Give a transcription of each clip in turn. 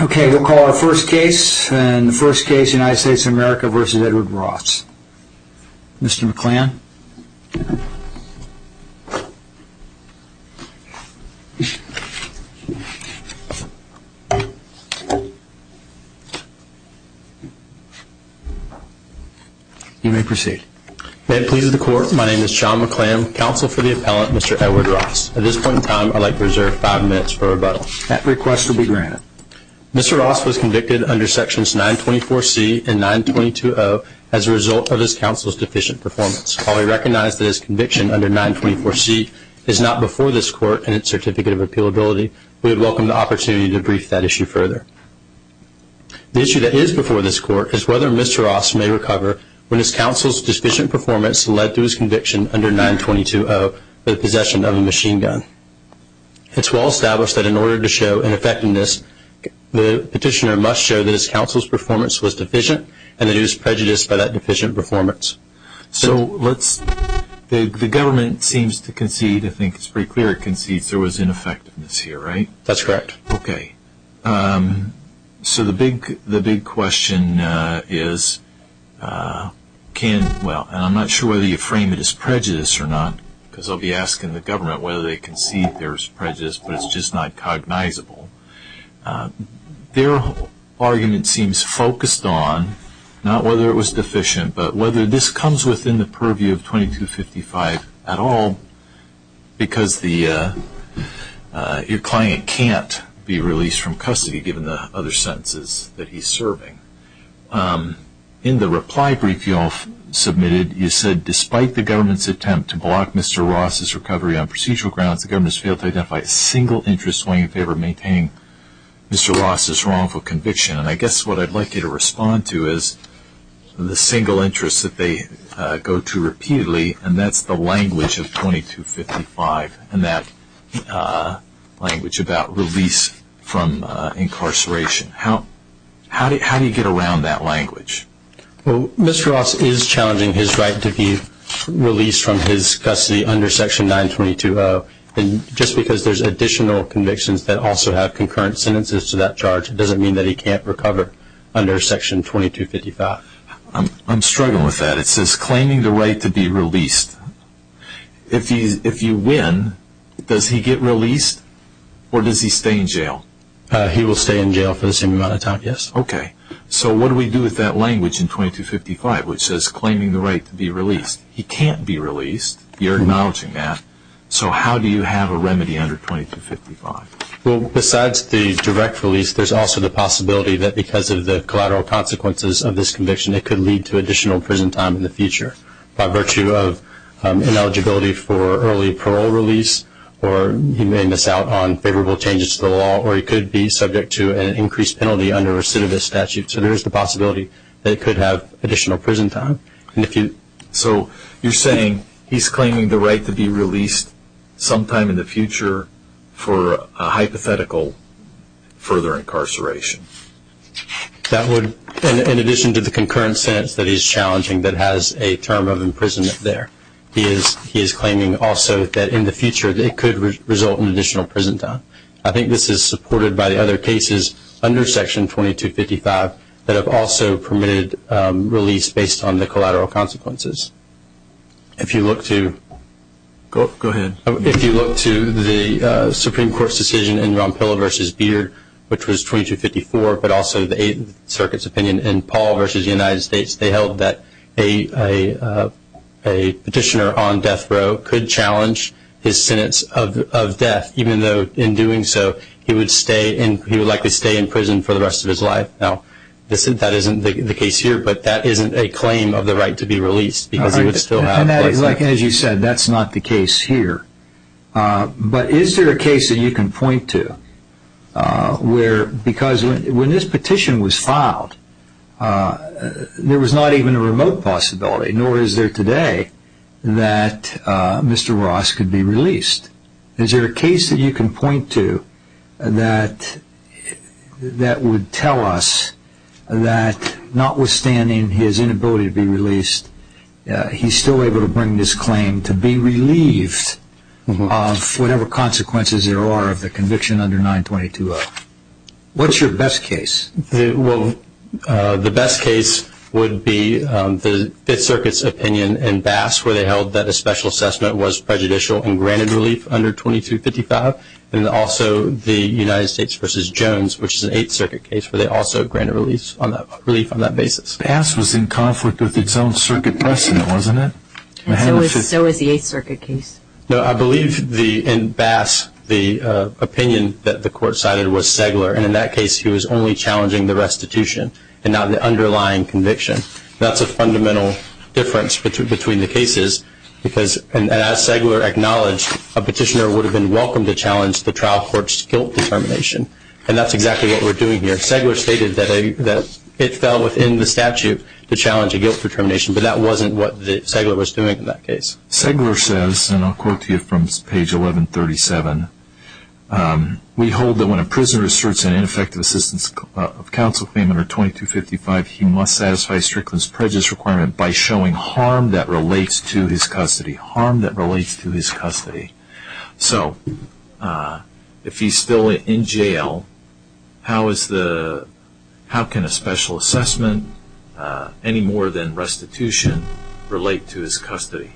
Okay, we'll call our first case, and the first case, United States of America v. Edward Ross. Mr. McClam. You may proceed. May it please the court, my name is Sean McClam, counsel for the appellant, Mr. Edward Ross. At this point in time, I'd like to reserve five minutes for rebuttal. That request will be granted. Mr. Ross was convicted under sections 924C and 922O as a result of his counsel's deficient performance. While we recognize that his conviction under 924C is not before this court in its certificate of appealability, we would welcome the opportunity to brief that issue further. The issue that is before this court is whether Mr. Ross may recover when his counsel's deficient performance led to his conviction under 922O for the possession of a machine gun. It's well established that in order to show ineffectiveness, the petitioner must show that his counsel's performance was deficient and that he was prejudiced by that deficient performance. So let's, the government seems to concede, I think it's pretty clear it concedes there was ineffectiveness here, right? That's correct. Okay. So the big question is, can, well, and I'm not sure whether you frame it as prejudice or not, because I'll be asking the government whether they concede there's prejudice, but it's just not cognizable. Their argument seems focused on not whether it was deficient, but whether this comes within the purview of 2255 at all, because the, your client can't be released from custody given the other sentences that he's serving. In the reply brief you all submitted, you said, despite the government's attempt to block Mr. Ross's recovery on procedural grounds, the government has failed to identify a single interest weighing in favor of maintaining Mr. Ross's wrongful conviction. And I guess what I'd like you to respond to is the single interest that they go to repeatedly, and that's the language of 2255 and that language about release from incarceration. How do you get around that language? Well, Mr. Ross is challenging his right to be released from his custody under Section 922-0, and just because there's additional convictions that also have concurrent sentences to that charge, it doesn't mean that he can't recover under Section 2255. I'm struggling with that. It says claiming the right to be released. If you win, does he get released or does he stay in jail? He will stay in jail for the same amount of time, yes. Okay. So what do we do with that language in 2255 which says claiming the right to be released? He can't be released. You're acknowledging that. So how do you have a remedy under 2255? Well, besides the direct release, there's also the possibility that because of the collateral consequences of this conviction, it could lead to additional prison time in the future by virtue of ineligibility for early parole release or he may miss out on favorable changes to the law or he could be subject to an increased penalty under recidivist statute. So there's the possibility that it could have additional prison time. So you're saying he's claiming the right to be released sometime in the future for a hypothetical further incarceration. That would, in addition to the concurrent sentence that he's challenging that has a term of imprisonment there, he is claiming also that in the future it could result in additional prison time. I think this is supported by the other cases under Section 2255 that have also permitted release based on the collateral consequences. If you look to the Supreme Court's decision in Rampilla v. Beard, which was 2254, but also the Eighth Circuit's opinion in Paul v. United States, they held that a petitioner on death row could challenge his sentence of death, even though in doing so he would likely stay in prison for the rest of his life. Now, that isn't the case here, but that isn't a claim of the right to be released because he would still have place there. As you said, that's not the case here. But is there a case that you can point to where, because when this petition was filed, there was not even a remote possibility, nor is there today, that Mr. Ross could be released. Is there a case that you can point to that would tell us that notwithstanding his inability to be released, he's still able to bring this claim to be relieved of whatever consequences there are of the conviction under 922-0? What's your best case? Well, the best case would be the Fifth Circuit's opinion in Bass, where they held that a special assessment was prejudicial and granted relief under 2255, and also the United States v. Jones, which is an Eighth Circuit case, where they also granted relief on that basis. Bass was in conflict with its own circuit precedent, wasn't it? And so was the Eighth Circuit case. No, I believe in Bass the opinion that the court cited was Segler, and in that case he was only challenging the restitution and not the underlying conviction. That's a fundamental difference between the cases because, as Segler acknowledged, a petitioner would have been welcome to challenge the trial court's guilt determination, and that's exactly what we're doing here. Segler stated that it fell within the statute to challenge a guilt determination, but that wasn't what Segler was doing in that case. Segler says, and I'll quote to you from page 1137, we hold that when a prisoner asserts an ineffective assistance of counsel claim under 2255, he must satisfy Strickland's prejudice requirement by showing harm that relates to his custody. Harm that relates to his custody. So if he's still in jail, how can a special assessment any more than restitution relate to his custody?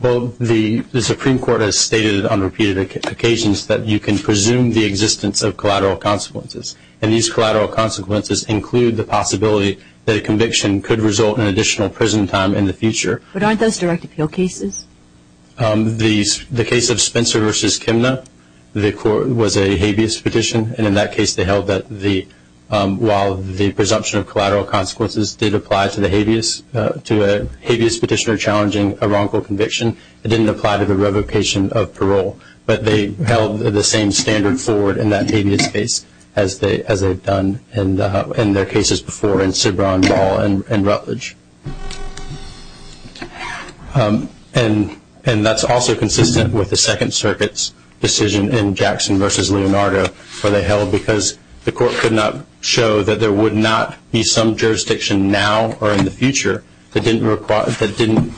Well, the Supreme Court has stated on repeated occasions that you can presume the existence of collateral consequences, and these collateral consequences include the possibility that a conviction could result in additional prison time in the future. But aren't those direct appeal cases? The case of Spencer v. Kimna, the court was a habeas petition, and in that case they held that while the presumption of collateral consequences did apply to the habeas, to a habeas petitioner challenging a wrongful conviction, it didn't apply to the revocation of parole. But they held the same standard forward in that habeas case as they've done in their cases before, in Cibron, Ball, and Rutledge. And that's also consistent with the Second Circuit's decision in Jackson v. Leonardo, where they held because the court could not show that there would not be some jurisdiction now or in the future that didn't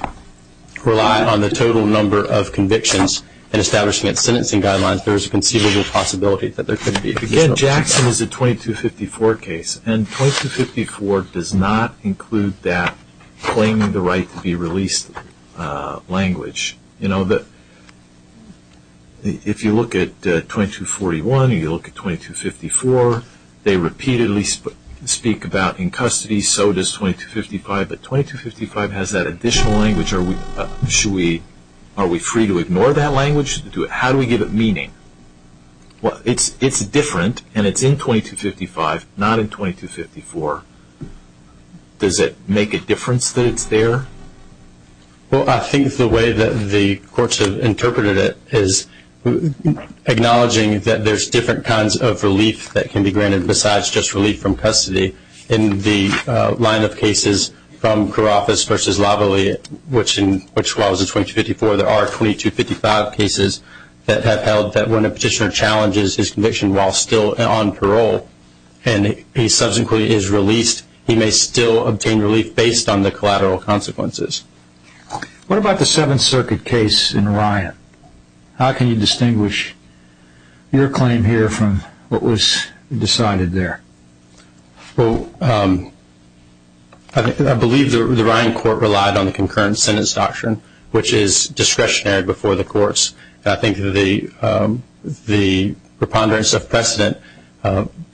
rely on the total number of convictions in establishing its sentencing guidelines, there was a conceivable possibility that there could be additional conviction. Again, Jackson is a 2254 case, and 2254 does not include that claiming the right to be released language. You know, if you look at 2241 and you look at 2254, they repeatedly speak about in custody, so does 2255. But 2255 has that additional language. Are we free to ignore that language? How do we give it meaning? Well, it's different, and it's in 2255, not in 2254. Does it make a difference that it's there? Well, I think the way that the courts have interpreted it is acknowledging that there's different kinds of relief that can be granted besides just relief from custody. In the line of cases from Kouropas v. Lavallee, which was in 2254, there are 2255 cases that have held that when a petitioner challenges his conviction while still on parole and he subsequently is released, he may still obtain relief based on the collateral consequences. What about the Seventh Circuit case in Ryan? How can you distinguish your claim here from what was decided there? Well, I believe the Ryan court relied on the concurrent sentence doctrine, which is discretionary before the courts. I think the preponderance of precedent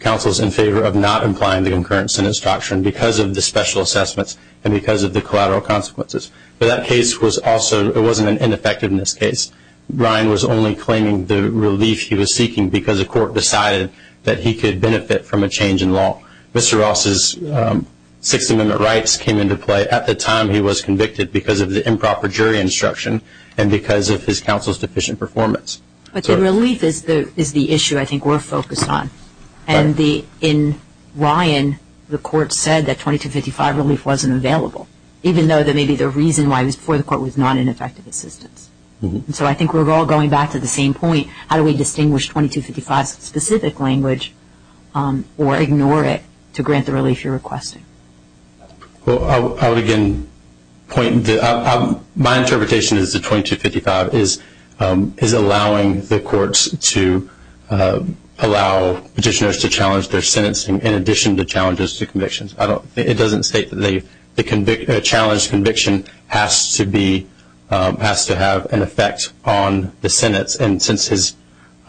counsels in favor of not implying the concurrent sentence doctrine because of the special assessments and because of the collateral consequences. But that case was also, it wasn't ineffective in this case. Ryan was only claiming the relief he was seeking because the court decided that he could benefit from a change in law. Mr. Ross's Sixth Amendment rights came into play at the time he was convicted because of the improper jury instruction and because of his counsel's deficient performance. But the relief is the issue I think we're focused on. And in Ryan, the court said that 2255 relief wasn't available, even though maybe the reason why it was before the court was not an effective assistance. So I think we're all going back to the same point. How do we distinguish 2255's specific language or ignore it to grant the relief you're requesting? Well, I would again point, my interpretation is that 2255 is allowing the courts to allow petitioners to challenge their sentencing in addition to challenges to convictions. It doesn't state that a challenged conviction has to have an effect on the sentence. And since his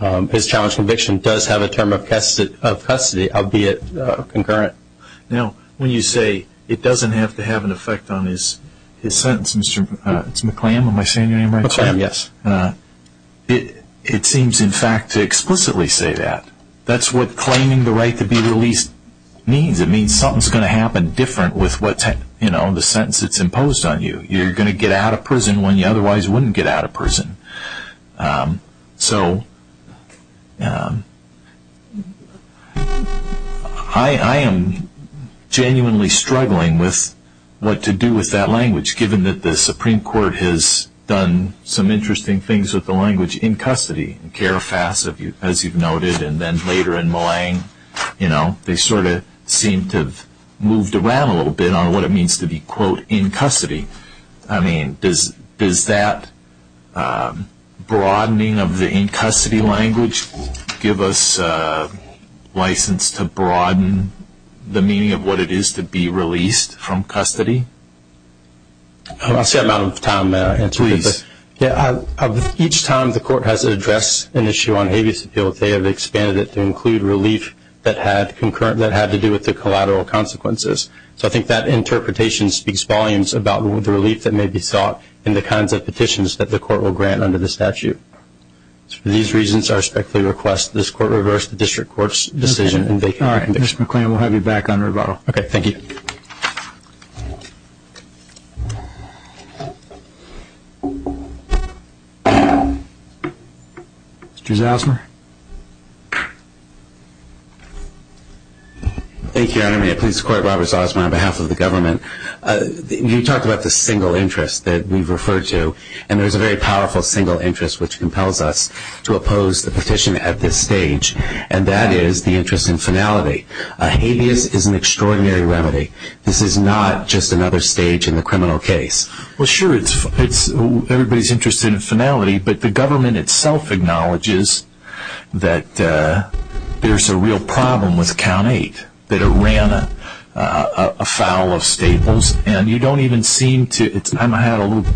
challenged conviction does have a term of custody, albeit concurrent. Now, when you say it doesn't have to have an effect on his sentence, Mr. McClam, am I saying your name right? McClam, yes. It seems in fact to explicitly say that. That's what claiming the right to be released means. It means something is going to happen different with the sentence that's imposed on you. You're going to get out of prison when you otherwise wouldn't get out of prison. So I am genuinely struggling with what to do with that language, given that the Supreme Court has done some interesting things with the language in custody. As you've noted, and then later in Millang, they sort of seemed to have moved around a little bit on what it means to be, quote, in custody. I mean, does that broadening of the in-custody language give us license to broaden the meaning of what it is to be released from custody? I'm out of time. Each time the court has addressed an issue on habeas appeal, they have expanded it to include relief that had to do with the collateral consequences. So I think that interpretation speaks volumes about the relief that may be sought in the kinds of petitions that the court will grant under the statute. For these reasons, I respectfully request this court reverse the district court's decision in vacant conviction. All right, Mr. McClam, we'll have you back on rebuttal. Okay, thank you. Mr. Zosmar. Thank you, Your Honor. May it please the Court, Robert Zosmar on behalf of the government. You talked about the single interest that we've referred to, and there's a very powerful single interest which compels us to oppose the petition at this stage, and that is the interest in finality. Habeas is an extraordinary remedy. This is not just another stage in the criminal case. Well, sure, everybody's interested in finality, but the government itself acknowledges that there's a real problem with Count 8, that it ran afoul of staples, and you don't even seem to – I had a little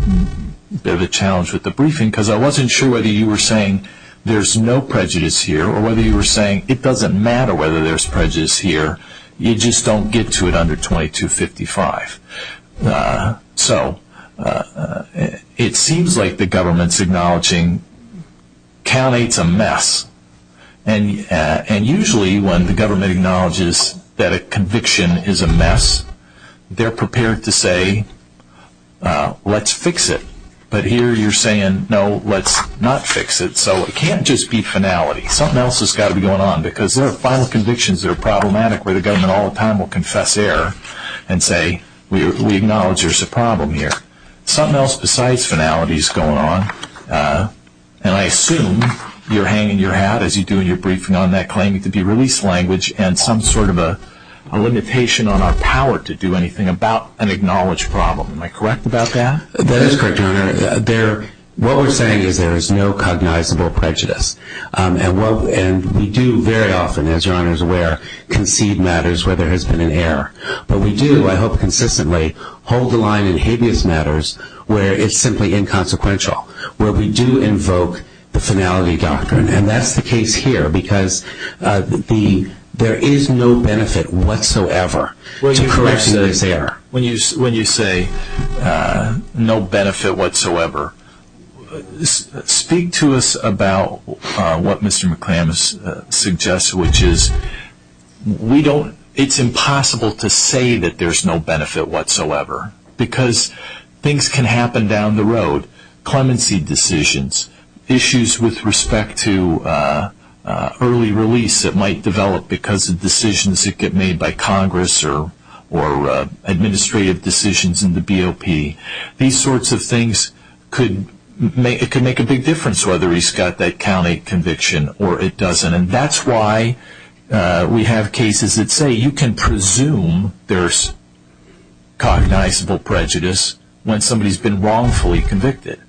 bit of a challenge with the briefing because I wasn't sure whether you were saying there's no prejudice here or whether you were saying it doesn't matter whether there's prejudice here, you just don't get to it under 2255. So it seems like the government's acknowledging Count 8's a mess, and usually when the government acknowledges that a conviction is a mess, they're prepared to say, let's fix it. But here you're saying, no, let's not fix it. So it can't just be finality. Something else has got to be going on because there are final convictions that are problematic where the government all the time will confess error and say, we acknowledge there's a problem here. Something else besides finality is going on, and I assume you're hanging your hat, as you do in your briefing, on that claiming to be release language and some sort of a limitation on our power to do anything about an acknowledged problem. Am I correct about that? That is correct, Your Honor. What we're saying is there is no cognizable prejudice. And we do very often, as Your Honor is aware, concede matters where there has been an error. But we do, I hope consistently, hold the line in habeas matters where it's simply inconsequential, where we do invoke the finality doctrine. And that's the case here because there is no benefit whatsoever to correcting this error. When you say no benefit whatsoever, speak to us about what Mr. McClamish suggests, which is it's impossible to say that there's no benefit whatsoever because things can happen down the road. Clemency decisions, issues with respect to early release that might develop because of decisions that get made by Congress or administrative decisions in the BOP, these sorts of things could make a big difference whether he's got that county conviction or it doesn't. And that's why we have cases that say you can presume there's cognizable prejudice when somebody's been wrongfully convicted.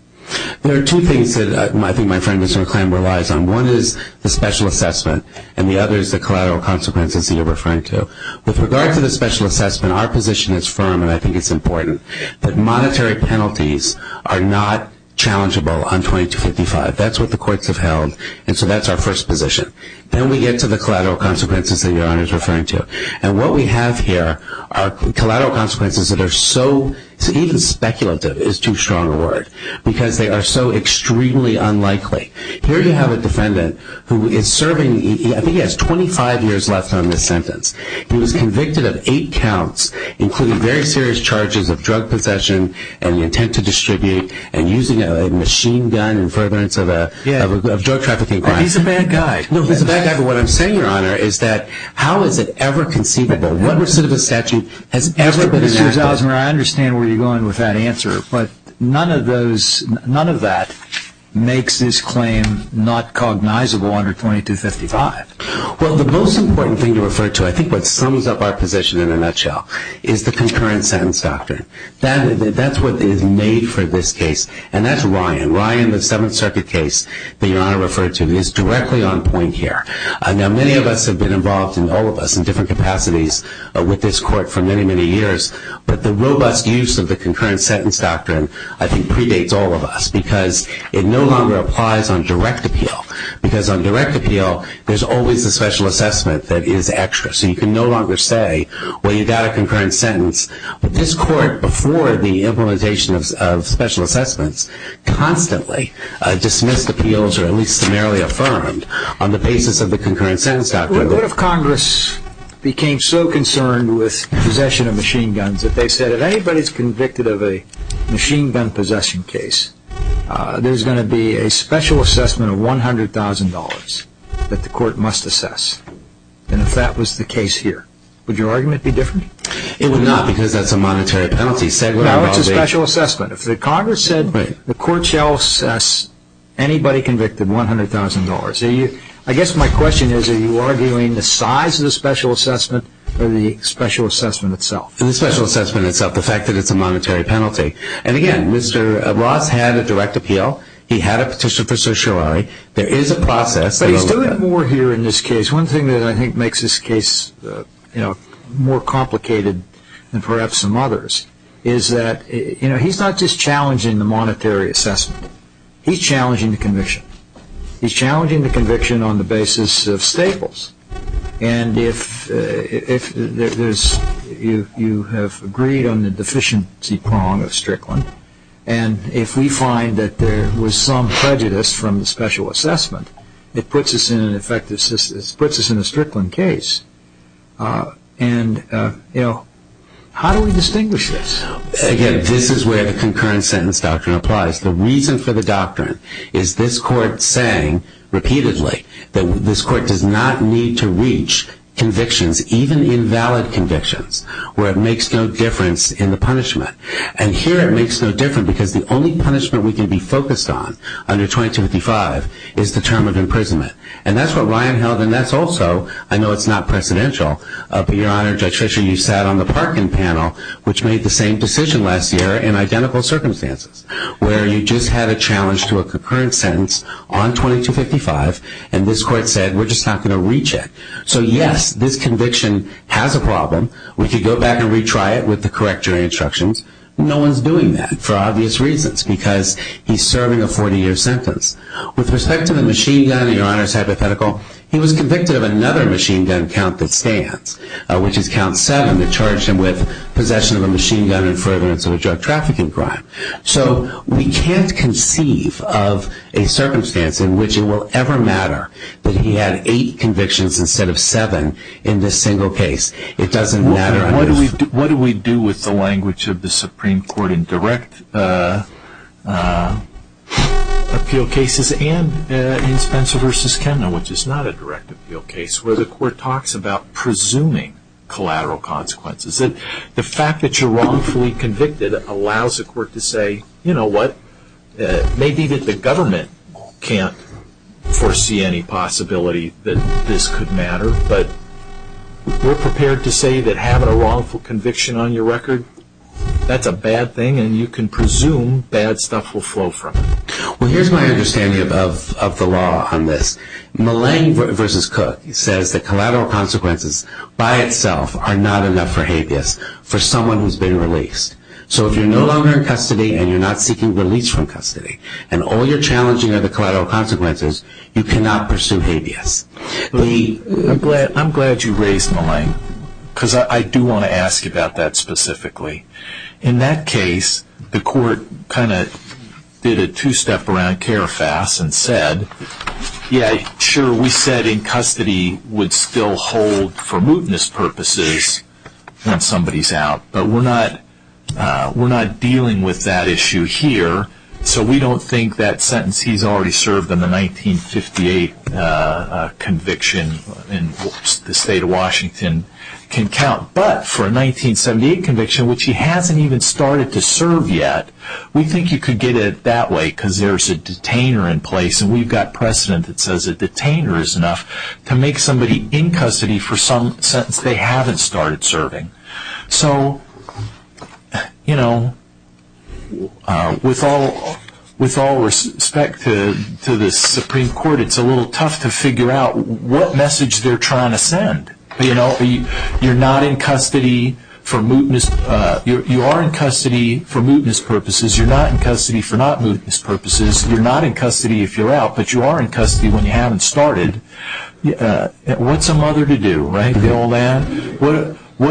There are two things that I think my friend Mr. McClamish relies on. One is the special assessment, and the other is the collateral consequences that you're referring to. With regard to the special assessment, our position is firm, and I think it's important, that monetary penalties are not challengeable on 2255. That's what the courts have held, and so that's our first position. Then we get to the collateral consequences that Your Honor is referring to. And what we have here are collateral consequences that are so, even speculative is too strong a word, because they are so extremely unlikely. Here you have a defendant who is serving, I think he has 25 years left on this sentence. He was convicted of eight counts, including very serious charges of drug possession and the intent to distribute and using a machine gun in furtherance of a drug trafficking crime. He's a bad guy. No, he's a bad guy, but what I'm saying, Your Honor, is that how is it ever conceivable? What sort of a statute has ever been enacted? Mr. Osmer, I understand where you're going with that answer, but none of that makes this claim not cognizable under 2255. Well, the most important thing to refer to, I think what sums up our position in a nutshell, is the concurrent sentence doctrine. That's what is made for this case, and that's Ryan. Ryan, the Seventh Circuit case that Your Honor referred to, is directly on point here. Now, many of us have been involved, all of us, in different capacities with this court for many, many years, but the robust use of the concurrent sentence doctrine, I think, predates all of us because it no longer applies on direct appeal. Because on direct appeal, there's always a special assessment that is extra. So you can no longer say, well, you got a concurrent sentence, but this court, before the implementation of special assessments, constantly dismissed appeals or at least summarily affirmed on the basis of the concurrent sentence doctrine. What if Congress became so concerned with possession of machine guns that they said if anybody is convicted of a machine gun possession case, there's going to be a special assessment of $100,000 that the court must assess? And if that was the case here, would your argument be different? It would not, because that's a monetary penalty. No, it's a special assessment. If the Congress said the court shall assess anybody convicted $100,000, I guess my question is are you arguing the size of the special assessment or the special assessment itself? The special assessment itself, the fact that it's a monetary penalty. And, again, Mr. Ross had a direct appeal. He had a petition for certiorari. There is a process. But he's doing more here in this case. One thing that I think makes this case more complicated than perhaps some others is that he's not just challenging the monetary assessment. He's challenging the conviction. He's challenging the conviction on the basis of staples. And if you have agreed on the deficiency prong of Strickland, and if we find that there was some prejudice from the special assessment, it puts us in a Strickland case. And, you know, how do we distinguish this? Again, this is where the concurrent sentence doctrine applies. The reason for the doctrine is this court saying repeatedly that this court does not need to reach convictions, even invalid convictions, where it makes no difference in the punishment. And here it makes no difference because the only punishment we can be focused on under 2255 is the term of imprisonment. And that's what Ryan held. And that's also, I know it's not precedential, but, Your Honor, Judge Fisher, you sat on the Parkin panel, which made the same decision last year in identical circumstances, where you just had a challenge to a concurrent sentence on 2255, and this court said we're just not going to reach it. So, yes, this conviction has a problem. We could go back and retry it with the correct jury instructions. No one's doing that, for obvious reasons, because he's serving a 40-year sentence. With respect to the machine gun, Your Honor's hypothetical, he was convicted of another machine gun count that stands, which is count seven that charged him with possession of a machine gun and furtherance of a drug trafficking crime. So we can't conceive of a circumstance in which it will ever matter that he had eight convictions instead of seven in this single case. It doesn't matter. What do we do with the language of the Supreme Court in direct appeal cases and in Spencer v. Kemner, which is not a direct appeal case, where the court talks about presuming collateral consequences? The fact that you're wrongfully convicted allows the court to say, you know what, maybe the government can't foresee any possibility that this could matter, but we're prepared to say that having a wrongful conviction on your record, that's a bad thing, and you can presume bad stuff will flow from it. Well, here's my understanding of the law on this. Malang v. Cook says that collateral consequences by itself are not enough for habeas for someone who's been released. So if you're no longer in custody and you're not seeking release from custody and all you're challenging are the collateral consequences, you cannot pursue habeas. I'm glad you raised Malang because I do want to ask about that specifically. In that case, the court kind of did a two-step around Carafas and said, yeah, sure, we said in custody would still hold for mootness purposes when somebody's out, but we're not dealing with that issue here, so we don't think that sentence he's already served in the 1958 conviction in the state of Washington can count. But for a 1978 conviction, which he hasn't even started to serve yet, we think you could get it that way because there's a detainer in place, and we've got precedent that says a detainer is enough to make somebody in custody for some sentence they haven't started serving. So with all respect to the Supreme Court, it's a little tough to figure out what message they're trying to send. You're not in custody for mootness purposes. You're not in custody for not mootness purposes. You're not in custody if you're out, but you are in custody when you haven't started. What's a mother to do? What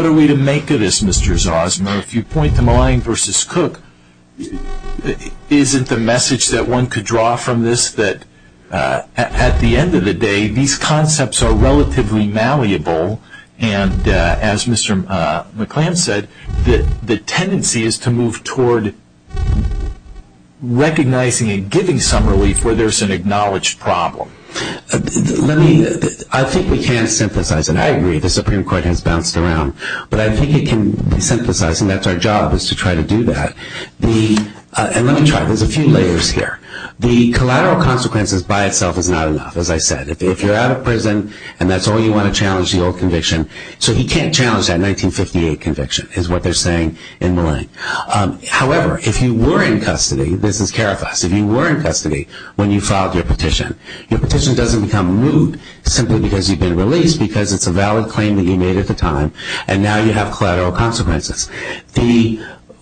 are we to make of this, Mr. Zosma? If you point to Malang v. Cook, isn't the message that one could draw from this is that at the end of the day, these concepts are relatively malleable, and as Mr. McClam said, the tendency is to move toward recognizing and giving some relief where there's an acknowledged problem. I think we can synthesize it. I agree the Supreme Court has bounced around, but I think it can be synthesized, and that's our job is to try to do that. Let me try. There's a few layers here. The collateral consequences by itself is not enough, as I said. If you're out of prison, and that's all you want to challenge the old conviction, so he can't challenge that 1958 conviction is what they're saying in Malang. However, if you were in custody, this is Carafas, if you were in custody when you filed your petition, your petition doesn't become moot simply because you've been released because it's a valid claim that you made at the time, and now you have collateral consequences.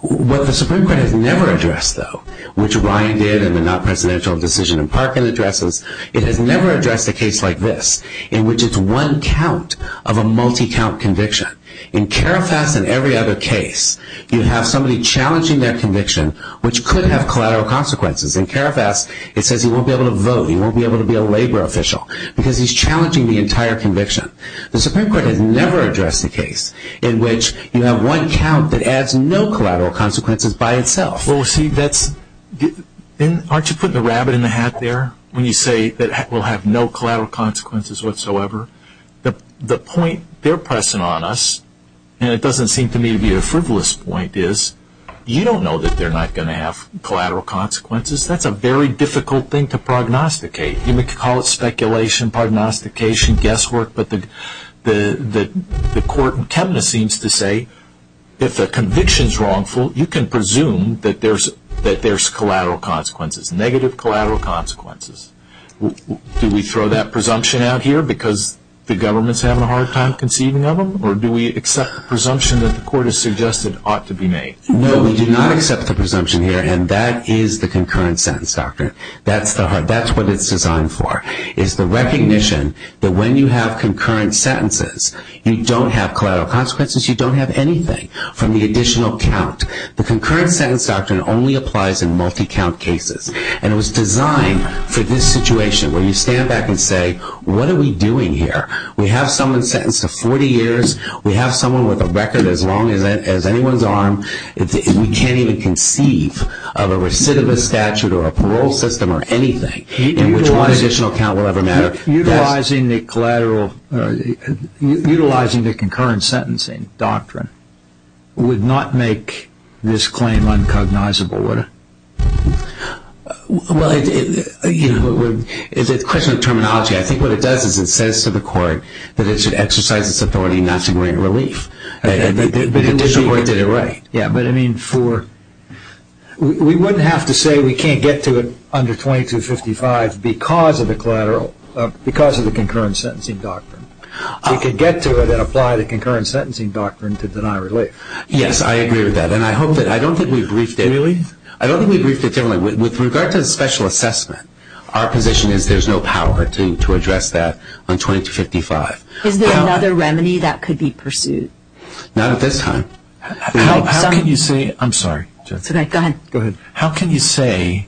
What the Supreme Court has never addressed, though, which Ryan did in the not-presidential decision in Parkin addresses, it has never addressed a case like this, in which it's one count of a multi-count conviction. In Carafas and every other case, you have somebody challenging their conviction, which could have collateral consequences. In Carafas, it says he won't be able to vote, he won't be able to be a labor official, because he's challenging the entire conviction. The Supreme Court has never addressed a case in which you have one count that adds no collateral consequences by itself. Well, see, aren't you putting the rabbit in the hat there when you say that we'll have no collateral consequences whatsoever? The point they're pressing on us, and it doesn't seem to me to be a frivolous point, is you don't know that they're not going to have collateral consequences. That's a very difficult thing to prognosticate. You may call it speculation, prognostication, guesswork, but the court in Chemena seems to say if the conviction is wrongful, you can presume that there's collateral consequences, negative collateral consequences. Do we throw that presumption out here because the government's having a hard time conceiving of them, or do we accept the presumption that the court has suggested ought to be made? No, we do not accept the presumption here, and that is the concurrent sentence, doctor. That's what it's designed for, is the recognition that when you have concurrent sentences, you don't have collateral consequences, you don't have anything from the additional count. The concurrent sentence doctrine only applies in multi-count cases, and it was designed for this situation where you stand back and say, what are we doing here? We have someone sentenced to 40 years. We have someone with a record as long as anyone's arm. We can't even conceive of a recidivist statute or a parole system or anything in which one additional count will ever matter. Utilizing the concurrent sentencing doctrine would not make this claim uncognizable, would it? Well, it's a question of terminology. I think what it does is it says to the court that it should exercise its authority not to bring relief. But in addition, the court did it right. Yeah, but I mean for... We wouldn't have to say we can't get to it under 2255 because of the concurrent sentencing doctrine. We could get to it and apply the concurrent sentencing doctrine to deny relief. Yes, I agree with that, and I hope that... I don't think we've briefed it. Really? I don't think we've briefed it generally. With regard to the special assessment, our position is there's no power to address that on 2255. Is there another remedy that could be pursued? Not at this time. How can you say... I'm sorry. Go ahead. How can you say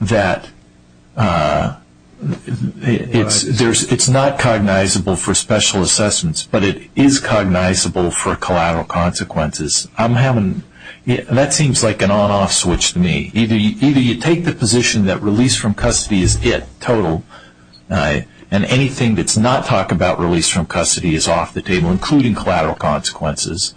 that it's not cognizable for special assessments, but it is cognizable for collateral consequences? That seems like an on-off switch to me. Either you take the position that release from custody is it, total, and anything that's not talk about release from custody is off the table, including collateral consequences,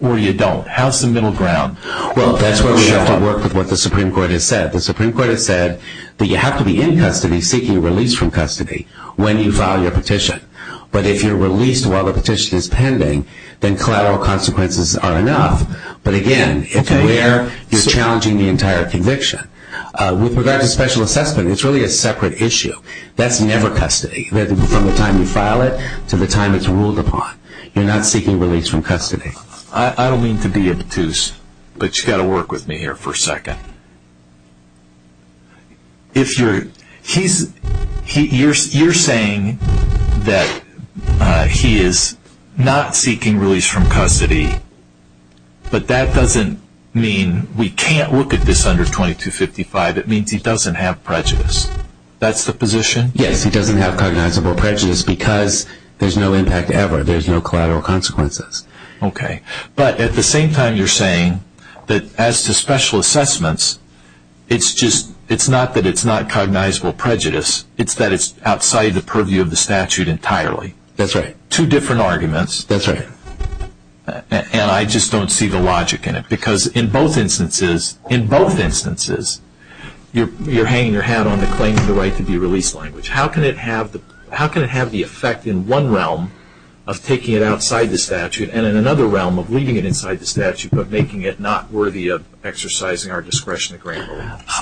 or you don't. How's the middle ground? Well, that's where we have to work with what the Supreme Court has said. The Supreme Court has said that you have to be in custody seeking release from custody when you file your petition. But if you're released while the petition is pending, then collateral consequences are enough. But, again, it's where you're challenging the entire conviction. With regard to special assessment, it's really a separate issue. That's never custody from the time you file it to the time it's ruled upon. You're not seeking release from custody. I don't mean to be obtuse, but you've got to work with me here for a second. You're saying that he is not seeking release from custody, but that doesn't mean we can't look at this under 2255. It means he doesn't have prejudice. That's the position? Yes, he doesn't have cognizable prejudice because there's no impact ever. There's no collateral consequences. Okay. But at the same time, you're saying that as to special assessments, it's not that it's not cognizable prejudice. It's that it's outside the purview of the statute entirely. That's right. Two different arguments. That's right. And I just don't see the logic in it. Because in both instances, you're hanging your hat on the claim of the right to be released language. How can it have the effect in one realm of taking it outside the statute and in another realm of leaving it inside the statute but making it not worthy of exercising our discretion to grant it?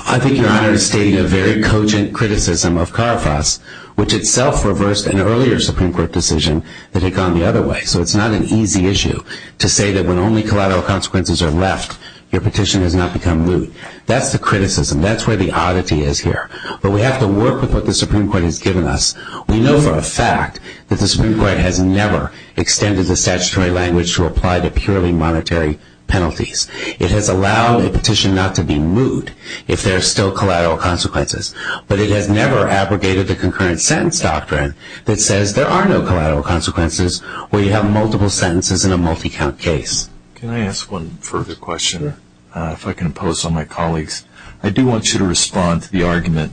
I think Your Honor is stating a very cogent criticism of Carfas, which itself reversed an earlier Supreme Court decision that had gone the other way. So it's not an easy issue to say that when only collateral consequences are left, your petition has not become lewd. That's the criticism. That's where the oddity is here. But we have to work with what the Supreme Court has given us. We know for a fact that the Supreme Court has never extended the statutory language to apply to purely monetary penalties. It has allowed a petition not to be lewd if there are still collateral consequences. But it has never abrogated the concurrent sentence doctrine that says there are no collateral consequences where you have multiple sentences in a multi-count case. Can I ask one further question, if I can impose on my colleagues? I do want you to respond to the argument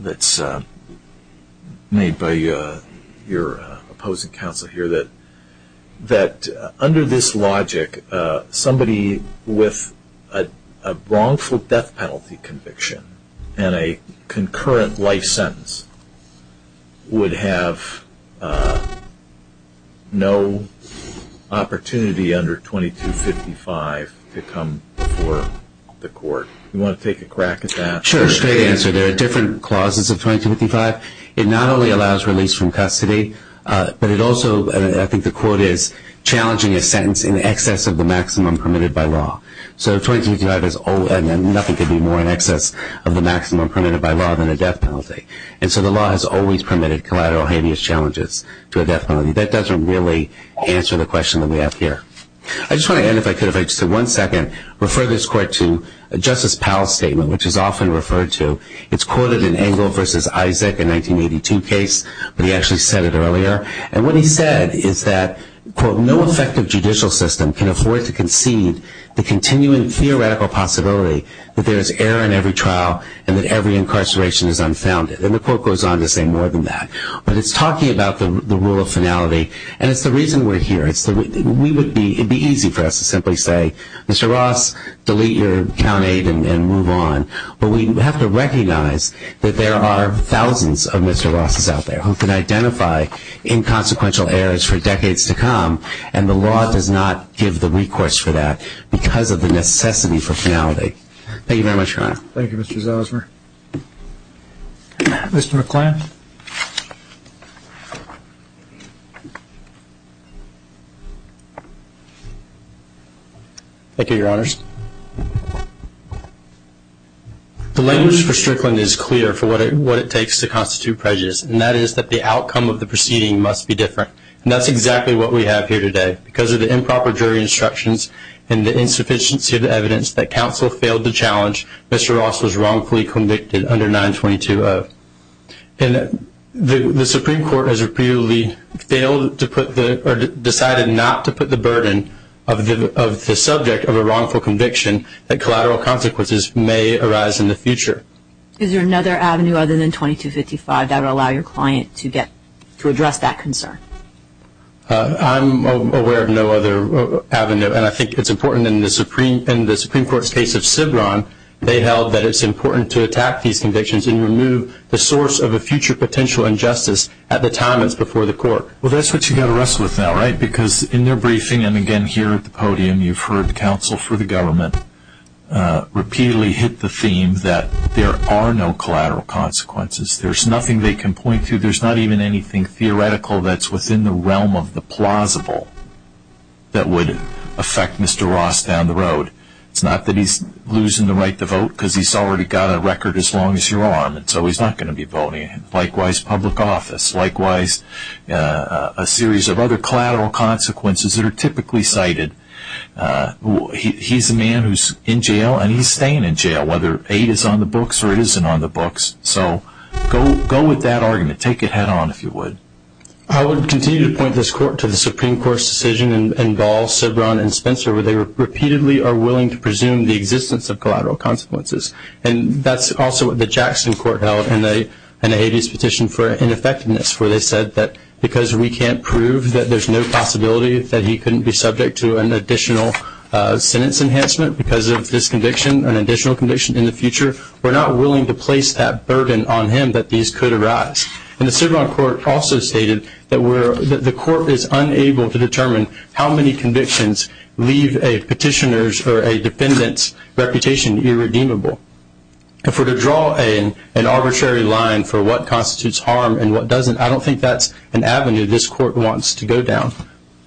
that's made by your opposing counsel here that under this logic, somebody with a wrongful death penalty conviction and a concurrent life sentence would have no opportunity under 2255 to come before the court. Do you want to take a crack at that? Sure, straight answer. There are different clauses of 2255. It not only allows release from custody, but it also, I think the quote is, challenging a sentence in excess of the maximum permitted by law. So 2255 is nothing could be more in excess of the maximum permitted by law than a death penalty. And so the law has always permitted collateral heinous challenges to a death penalty. That doesn't really answer the question that we have here. I just want to end, if I could, if I could just one second, refer this court to Justice Powell's statement, which is often referred to. It's quoted in Engle v. Isaac, a 1982 case, but he actually said it earlier. And what he said is that, quote, the continuing theoretical possibility that there is error in every trial and that every incarceration is unfounded. And the court goes on to say more than that. But it's talking about the rule of finality, and it's the reason we're here. It would be easy for us to simply say, Mr. Ross, delete your count aid and move on. But we have to recognize that there are thousands of Mr. Rosses out there who can identify inconsequential errors for decades to come, and the law does not give the recourse for that because of the necessity for finality. Thank you very much, Your Honor. Thank you, Mr. Zosmer. Mr. McClann. Thank you, Your Honors. The language for Strickland is clear for what it takes to constitute prejudice, and that is that the outcome of the proceeding must be different. And that's exactly what we have here today. Because of the improper jury instructions and the insufficiency of the evidence that counsel failed to challenge, Mr. Ross was wrongfully convicted under 922-0. And the Supreme Court has decided not to put the burden of the subject of a wrongful conviction that collateral consequences may arise in the future. Is there another avenue other than 2255 that would allow your client to address that concern? I'm aware of no other avenue, and I think it's important in the Supreme Court's case of Sibron, they held that it's important to attack these convictions and remove the source of a future potential injustice at the time it's before the court. Well, that's what you've got to wrestle with now, right? counsel for the government repeatedly hit the theme that there are no collateral consequences. There's nothing they can point to. There's not even anything theoretical that's within the realm of the plausible that would affect Mr. Ross down the road. It's not that he's losing the right to vote because he's already got a record as long as you're on, and so he's not going to be voting. Likewise, public office. Likewise, a series of other collateral consequences that are typically cited. He's a man who's in jail, and he's staying in jail, whether aid is on the books or it isn't on the books. So go with that argument. Take it head-on, if you would. I would continue to point this court to the Supreme Court's decision in Ball, Sibron, and Spencer, where they repeatedly are willing to presume the existence of collateral consequences, and that's also what the Jackson court held in the Hades petition for ineffectiveness, where they said that because we can't prove that there's no possibility that he couldn't be subject to an additional sentence enhancement because of this conviction, an additional conviction in the future, we're not willing to place that burden on him that these could arise. And the Sibron court also stated that the court is unable to determine how many convictions leave a petitioner's or a defendant's reputation irredeemable. If we're to draw an arbitrary line for what constitutes harm and what doesn't, I don't think that's an avenue this court wants to go down.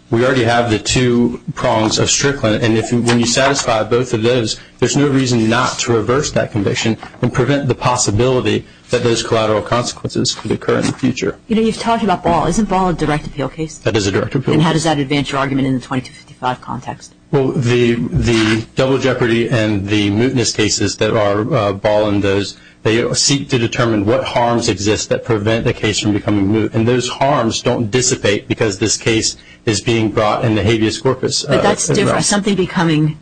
We already have the two prongs of Strickland, and when you satisfy both of those, there's no reason not to reverse that conviction and prevent the possibility that those collateral consequences could occur in the future. You know, you've talked about Ball. Isn't Ball a direct appeal case? That is a direct appeal case. And how does that advance your argument in the 2255 context? Well, the double jeopardy and the mootness cases that are Ball and those, they seek to determine what harms exist that prevent the case from becoming moot, and those harms don't dissipate because this case is being brought in the habeas corpus. But that's different. Something becoming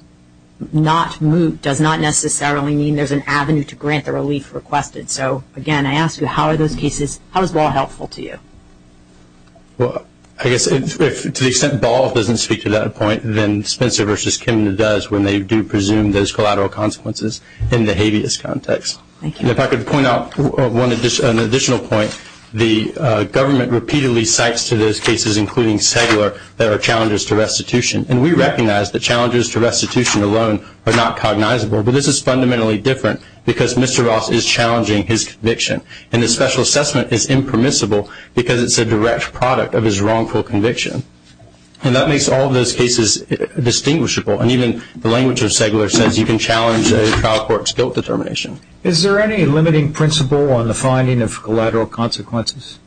not moot does not necessarily mean there's an avenue to grant the relief requested. So, again, I ask you, how are those cases, how is Ball helpful to you? Well, I guess to the extent Ball doesn't speak to that point, then Spencer v. Kim does when they do presume those collateral consequences in the habeas context. If I could point out an additional point, the government repeatedly cites to those cases, including cellular, that are challenges to restitution. And we recognize that challenges to restitution alone are not cognizable, but this is fundamentally different because Mr. Ross is challenging his conviction, and his special assessment is impermissible because it's a direct product of his wrongful conviction. And that makes all those cases distinguishable, and even the language of cellular says you can challenge a trial court's guilt determination. Is there any limiting principle on the finding of collateral consequences?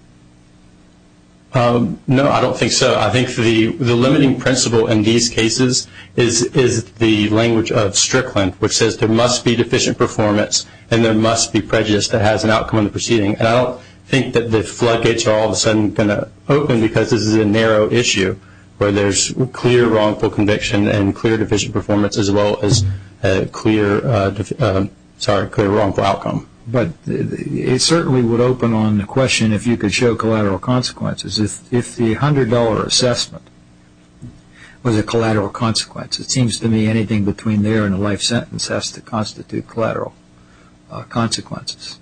No, I don't think so. I think the limiting principle in these cases is the language of Strickland, which says there must be deficient performance and there must be prejudice that has an outcome in the proceeding. And I don't think that the floodgates are all of a sudden going to open because this is a narrow issue where there's clear wrongful conviction and clear deficient performance as well as a clear wrongful outcome. But it certainly would open on the question if you could show collateral consequences. If the $100 assessment was a collateral consequence, it seems to me anything between there and a life sentence has to constitute collateral consequences.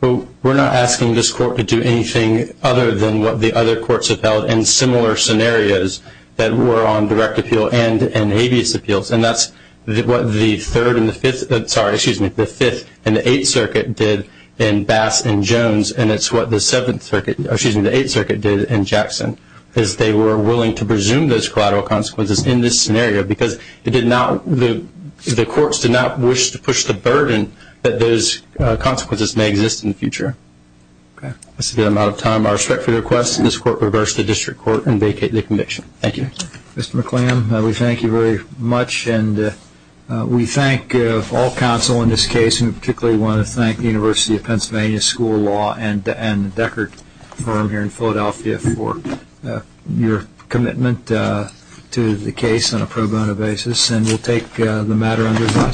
Well, we're not asking this court to do anything other than what the other courts have held in similar scenarios that were on direct appeal and habeas appeals, and that's what the Fifth and the Eighth Circuit did in Bass and Jones, and it's what the Eighth Circuit did in Jackson, is they were willing to presume those collateral consequences in this scenario because the courts did not wish to push the burden that those consequences may exist in the future. Okay. I see we're out of time. I respectfully request that this court reverse the district court and vacate the conviction. Thank you. Mr. McClam, we thank you very much, and we thank all counsel in this case, and we particularly want to thank the University of Pennsylvania School of Law and the Deckard firm here in Philadelphia for your commitment to the case on a pro bono basis, and we'll take the matter under discussion.